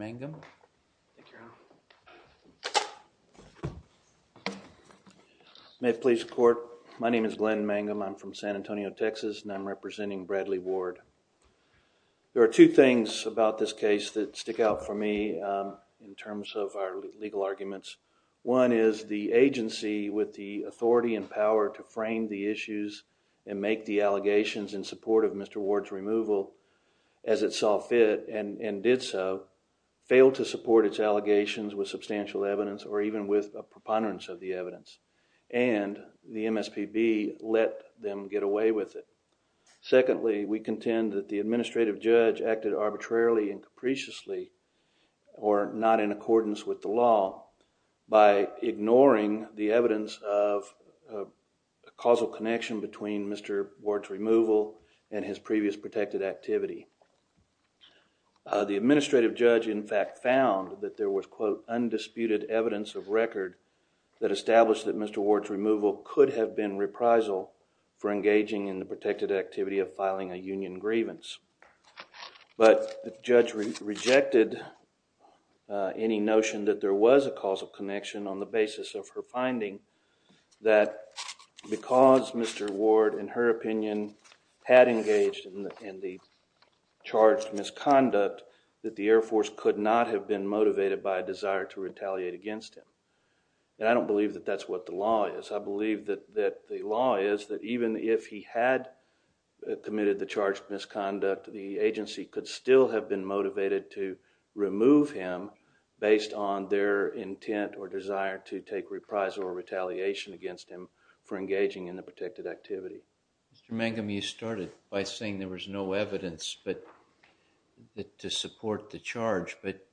I'm from San Antonio, Texas, and I'm representing Bradley Ward. There are two things about this case that stick out for me in terms of our legal arguments. One is the agency, with the authority and power to frame the issues and make the allegations in support of Mr. Ward's removal as it saw fit and did so, failed to support its allegations with substantial evidence or even with a preponderance of the evidence, and the MSPB let them get away with it. Secondly, we contend that the administrative judge acted arbitrarily and capriciously or not in accordance with the law by ignoring the evidence of a causal connection between Mr. Ward's removal and his previous protected activity. The administrative judge, in fact, found that there was, quote, undisputed evidence of record that established that Mr. Ward's removal could have been reprisal for engaging in the protected activity of filing a union grievance. But the judge rejected any notion that there was a causal connection on the basis of her finding that because Mr. Ward, in her opinion, had engaged in the charged misconduct, that the Air Force could not have been motivated by a desire to retaliate against him. And I don't believe that that's what the law is. I believe that the law is that even if he had committed the charged misconduct, the agency could still have been motivated to remove him based on their intent or desire to take reprisal or retaliation against him for engaging in the protected activity. Mr. Mangum, you started by saying there was no evidence to support the charge, but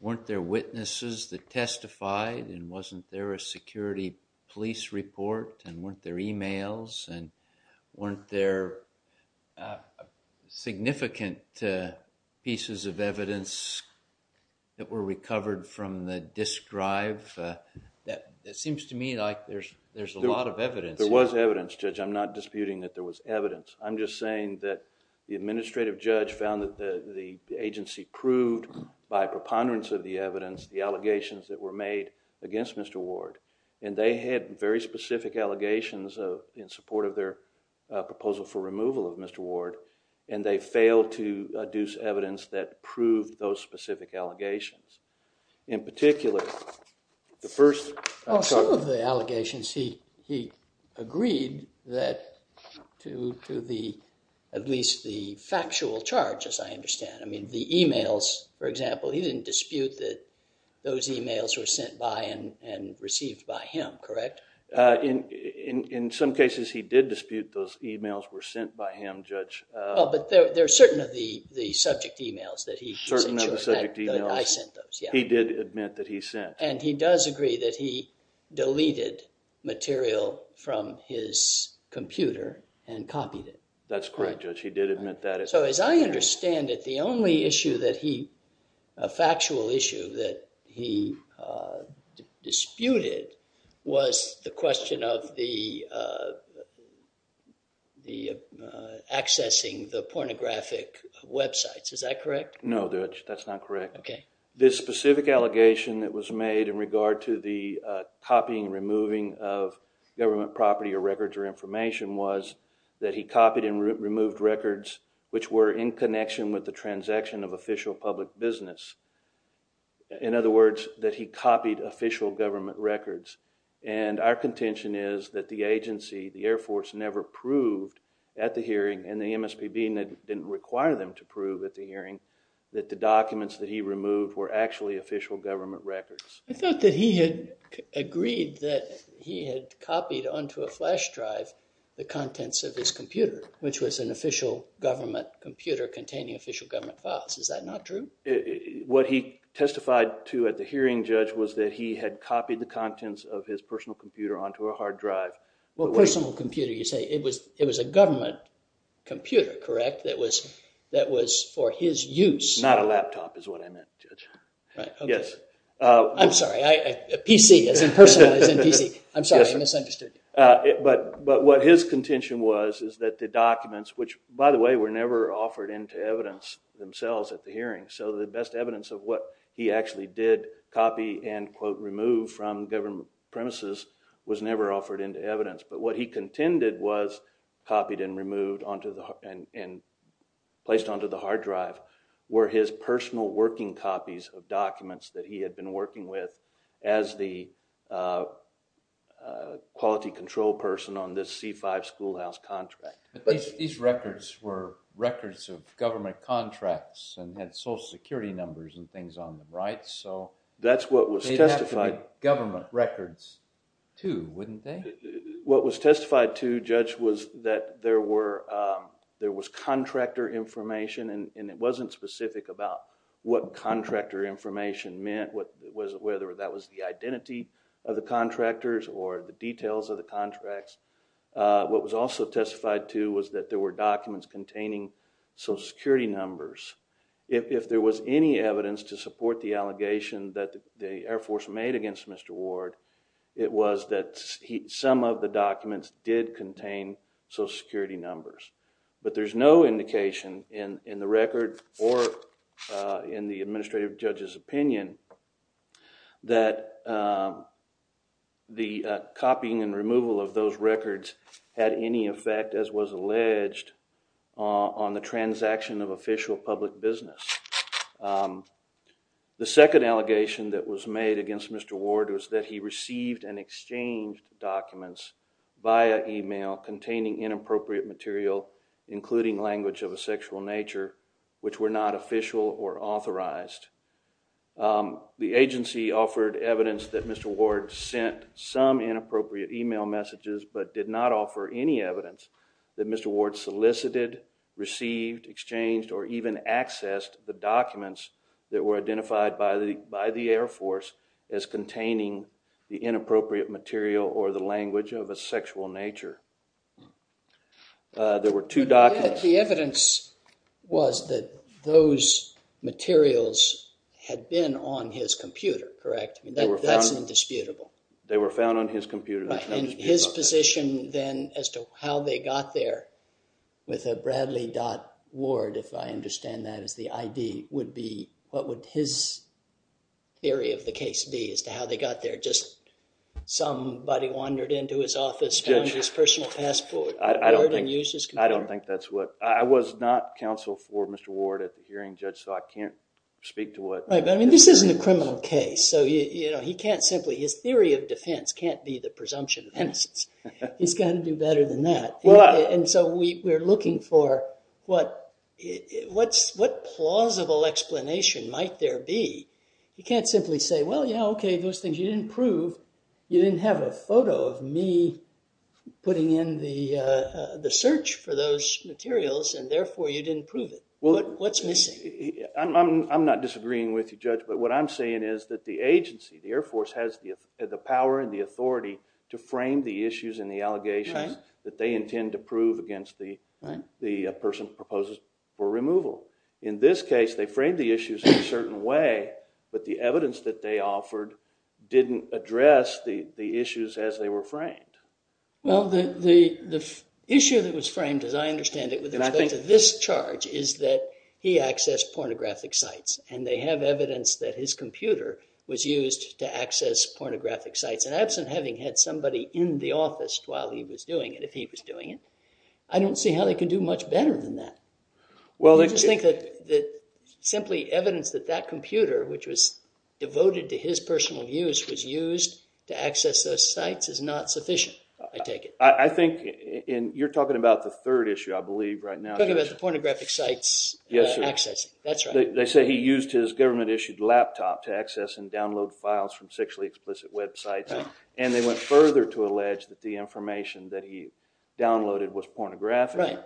weren't there witnesses that testified and wasn't there a security police report and weren't there emails and weren't there, uh, significant, uh, pieces of evidence that were recovered from the disc drive, uh, that, that seems to me like there's, there's a lot of evidence. There was evidence, Judge. I'm not disputing that there was evidence. I'm just saying that the administrative judge found that the, the agency proved by preponderance of the evidence, the allegations that were made against Mr. Ward, and they had very specific allegations of, in support of their, uh, proposal for removal of Mr. Ward. And they failed to, uh, deuce evidence that proved those specific allegations. In particular, the first, I'm sorry. Well, some of the allegations he, he agreed that to, to the, at least the factual charge, as I understand. I mean, the emails, for example, he didn't dispute that those emails were sent by and, and received by him, correct? Uh, in, in, in some cases he did dispute those emails were sent by him, Judge. Uh. Oh, but there, there are certain of the, the subject emails that he sent you. Certain of the subject emails. That I sent those, yeah. He did admit that he sent. And he does agree that he deleted material from his computer and copied it. That's correct, Judge. He did admit that. So, as I understand it, the only issue that he, a factual issue that he, uh, disputed was the question of the, uh, the, uh, accessing the pornographic websites. Is that correct? No, Judge. That's not correct. Okay. The specific allegation that was made in regard to the, uh, copying and removing of government property or records or information was that he copied and removed records which were in connection with the transaction of official public business. In other words, that he copied official government records. And our contention is that the agency, the Air Force, never proved at the hearing, and the MSPB didn't require them to prove at the hearing, that the documents that he removed were actually official government records. I thought that he had agreed that he had copied onto a flash drive the contents of his computer, which was an official government computer containing official government files. Is that not true? What he testified to at the hearing, Judge, was that he had copied the contents of his personal computer onto a hard drive. Well, personal computer, you say. It was, it was a government computer, correct, that was, that was for his use. Not a laptop is what I meant, Judge. Yes. I'm sorry, a PC, as in personal, as in PC. I'm sorry, I misunderstood you. But, but what his contention was is that the documents, which, by the way, were never offered into evidence themselves at the hearing, so the best evidence of what he actually did copy and, quote, remove from government premises was never offered into evidence. But what he contended was copied and removed onto the, and placed onto the hard drive were his personal working copies of documents that he had been working with as the quality control person on this C-5 schoolhouse contract. But these records were records of government contracts and had social security numbers and things on them, right? So, that's what was testified. They'd have to be government records, too, wouldn't they? What was testified to, Judge, was that there were, there was contractor information and it wasn't specific about what contractor information meant, whether that was the identity of the contractors or the details of the contracts. What was also testified to was that there were documents containing social security numbers. If, if there was any evidence to support the allegation that the Air Force made against Mr. Ward, it was that some of the documents did contain social security numbers. But there's no indication in the record or in the administrative judge's opinion that the copying and removal of those records had any effect, as was alleged, on the transaction of official public business. The second allegation that was made against Mr. Ward was that he received and exchanged documents via email containing inappropriate material, including language of a sexual nature, which were not official or authorized. The agency offered evidence that Mr. Ward sent some inappropriate email messages, but did not offer any evidence that Mr. Ward solicited, received, exchanged, or even accessed the documents that were identified by the, by the Air Force as containing the inappropriate material or the language of a sexual nature. There were two documents. The evidence was that those materials had been on his computer, correct? I mean, that's indisputable. They were found on his computer. That's indisputable. And his position then as to how they got there with a Bradley.Ward, if I understand that as the ID, would be, what would his theory of the case be as to how they got there? Just somebody wandered into his office, found his personal passport, and used his computer? I don't think that's what, I was not counsel for Mr. Ward at the hearing, Judge, so I can't speak to what. Right, but I mean, this isn't a criminal case, so you know, he can't simply, his theory of defense can't be the presumption of innocence. He's got to do better than that. And so we're looking for what, what's, what plausible explanation might there be? You can't simply say, well, yeah, okay, those things you didn't prove. You didn't have a photo of me putting in the search for those materials, and therefore you didn't prove it. What's missing? I'm not disagreeing with you, Judge, but what I'm saying is that the agency, the Air Force has the power and the authority to frame the issues and the allegations that they intend to prove against the person who proposes for removal. In this case, they framed the issues in a certain way, but the evidence that they offered didn't address the issues as they were framed. Well, the issue that was framed, as I understand it, with respect to this charge is that he accessed pornographic sites, and they have evidence that his computer was used to access pornographic sites, and absent having had somebody in the office while he was doing it, if he was doing it, I don't see how they can do much better than that. I just think that simply evidence that that computer, which was devoted to his personal use, was used to access those sites is not sufficient, I take it. I think, and you're talking about the third issue, I believe, right now. I'm talking about the pornographic sites access, that's right. They say he used his government-issued laptop to access and download files from sexually explicit websites, and they went further to allege that the information that he downloaded was pornographic. Right.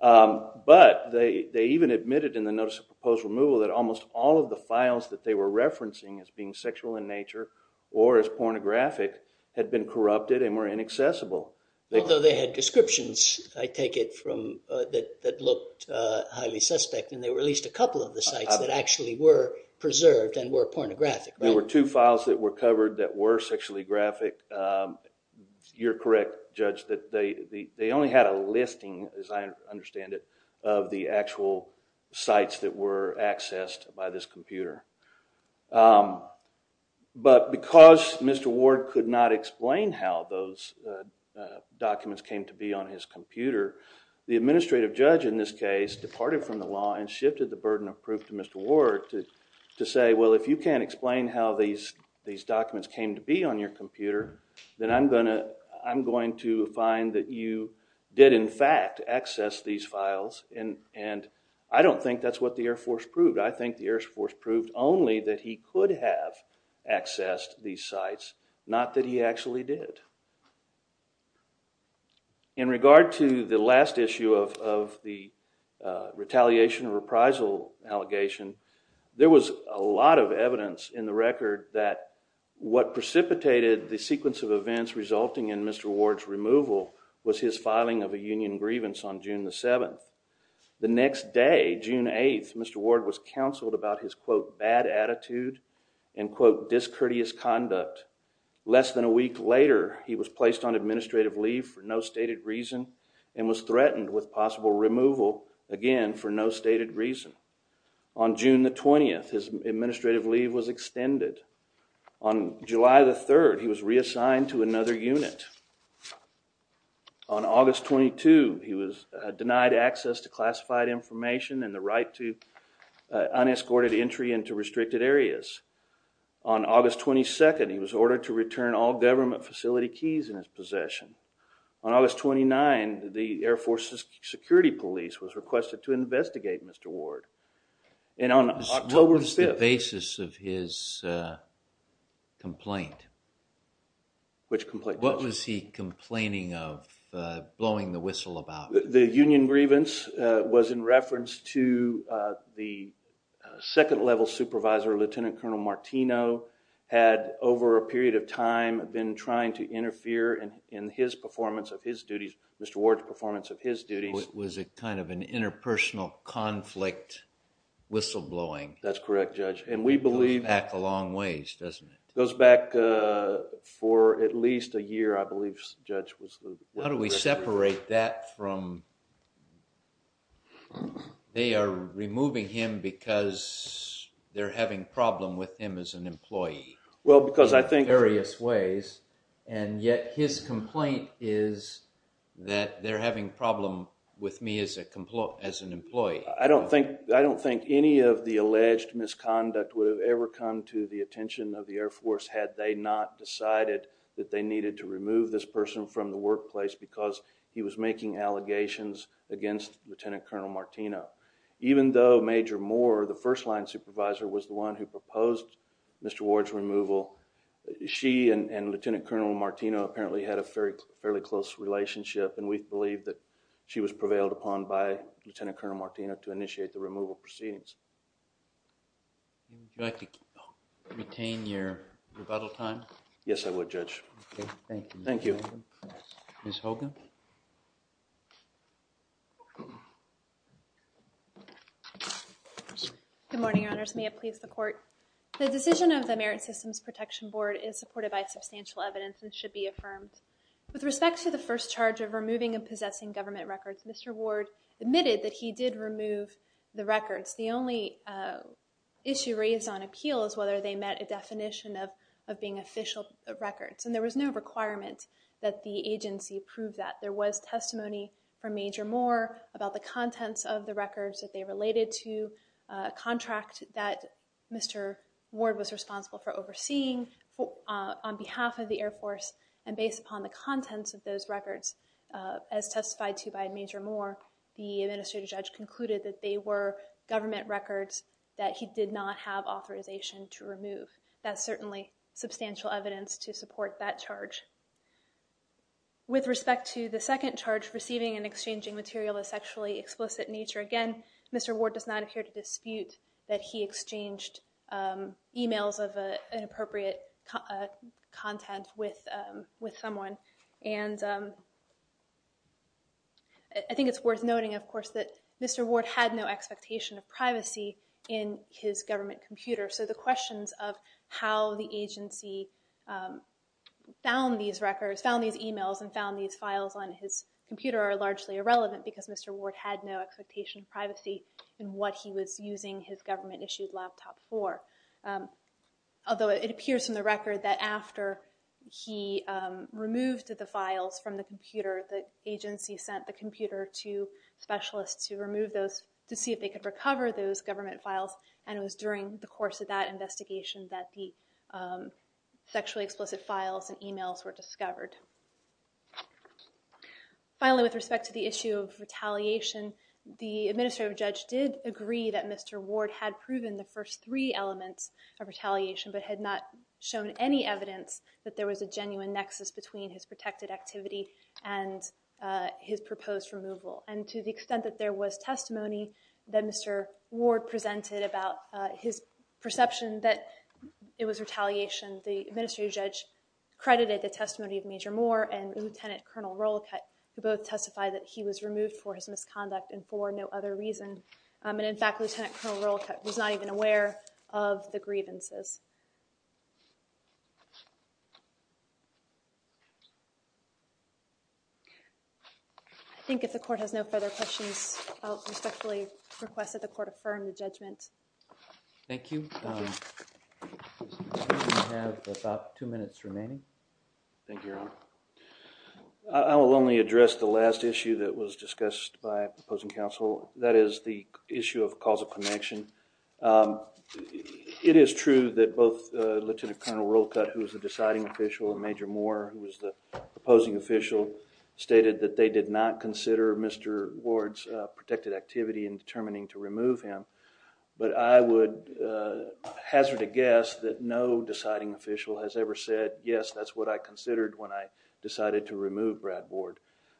But, they even admitted in the Notice of Proposed Removal that almost all of the files that they were referencing as being sexual in nature or as pornographic had been corrupted and were inaccessible. Although they had descriptions, I take it, that looked highly suspect, and they released a couple of the sites that actually were preserved and were pornographic, right? There were two files that were covered that were sexually graphic. You're correct, Judge, that they only had a listing, as I understand it, of the actual sites that were accessed by this computer. But because Mr. Ward could not explain how those documents came to be on his computer, the administrative judge in this case departed from the law and shifted the burden of proof to Mr. Ward to say, well, if you can't explain how these documents came to be on your computer, then I'm going to find that you did, in fact, access these files. And I don't think that's what the Air Force proved. I think the Air Force proved only that he could have accessed these sites, not that he actually did. In regard to the last issue of the retaliation reprisal allegation, there was a lot of evidence in the record that what precipitated the sequence of events resulting in Mr. Ward's removal was his filing of a union grievance on June the 7th. The next day, June 8th, Mr. Ward was counseled about his, quote, bad attitude and, quote, discourteous conduct. Less than a week later, he was placed on administrative leave for no stated reason and was threatened with possible removal, again, for no stated reason. On June the 20th, his administrative leave was extended. On July the 3rd, he was reassigned to another unit. On August 22, he was denied access to classified information and the right to unescorted entry into restricted areas. On August 22nd, he was ordered to return all government facility keys in his possession. On August 29, the Air Force's security police was requested to investigate Mr. Ward. And on October 5th… What was the basis of his complaint? Which complaint? What was he complaining of, blowing the whistle about? The union grievance was in reference to the second level supervisor, Lieutenant Colonel Martino, had, over a period of time, been trying to interfere in his performance of his duties, Mr. Ward's performance of his duties. Was it kind of an interpersonal conflict whistle blowing? That's correct, Judge. And we believe… It goes back a long ways, doesn't it? It goes back for at least a year, I believe, Judge. How do we separate that from, they are removing him because they're having a problem with him as an employee in various ways, and yet his complaint is that they're having a problem with me as an employee? I don't think any of the alleged misconduct would have ever come to the attention of the Air Force had they not decided that they needed to remove this person from the workplace because he was making allegations against Lieutenant Colonel Martino. Even though Major Moore, the first line supervisor, was the one who proposed Mr. Ward's removal, she and Lieutenant Colonel Martino apparently had a fairly close relationship and we believe that she was prevailed upon by Lieutenant Colonel Martino to initiate the removal proceedings. Would you like to retain your rebuttal time? Yes, I would, Judge. Thank you. Thank you. Ms. Hogan? Good morning, Your Honors. May it please the Court. The decision of the Merit Systems Protection Board is supported by substantial evidence and should be affirmed. With respect to the first charge of removing and possessing government records, Mr. Ward admitted that he did remove the records. The only issue raised on appeal is whether they met a definition of being official records, and there was no requirement that the agency prove that. There was testimony from Major Moore about the contents of the records that they related to, a contract that Mr. Ward was responsible for overseeing on behalf of the Air Force, and based upon the contents of those records, as testified to by Major Moore, the administrative judge concluded that they were government records that he did not have authorization to remove. That's certainly substantial evidence to support that charge. With respect to the second charge, receiving and exchanging material of sexually explicit nature, again, Mr. Ward does not appear to dispute that he exchanged emails of inappropriate content with someone, and I think it's worth noting, of course, that Mr. Ward had no expectation of privacy in his government computer. So the questions of how the agency found these records, found these emails, and found these files on his computer are largely irrelevant, because Mr. Ward had no expectation of privacy in what he was using his government-issued laptop for. Although it appears in the record that after he removed the files from the computer, the agency sent the computer to specialists to remove those, to see if they could recover those government files, and it was during the course of that investigation that the sexually explicit files and emails were discovered. Finally, with respect to the issue of retaliation, the administrative judge did agree that Mr. Ward had proven the first three elements of retaliation, but had not shown any evidence that there was a genuine nexus between his protected activity and his proposed removal. And to the extent that there was testimony that Mr. Ward presented about his perception that it was retaliation, the administrative judge credited the testimony of Major Moore and Lieutenant Colonel Rollicutt, who both testified that he was removed for his misconduct and for no other reason. And in fact, Lieutenant Colonel Rollicutt was not even aware of the grievances. I think if the court has no further questions, I respectfully request that the court affirm the judgment. Thank you. We have about two minutes remaining. Thank you, Your Honor. I will only address the last issue that was discussed by opposing counsel, that is the issue of causal connection. It is true that both Lieutenant Colonel Rollicutt, who was the deciding official, and Major Moore, who was the opposing official, stated that they did not consider Mr. Ward's protected activity in determining to remove him, but I would hazard a guess that no deciding official has ever said, yes, that's what I considered when I decided to remove Brad Ward.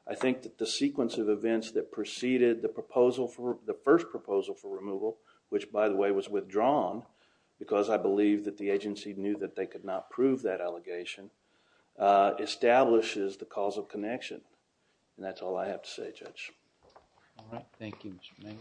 I think that the sequence of events that preceded the first proposal for removal, which by the way was withdrawn because I believe that the agency knew that they could not prove that allegation, establishes the causal connection. And that's all I have to say, Judge. All right. Thank you, Mr. Mangan.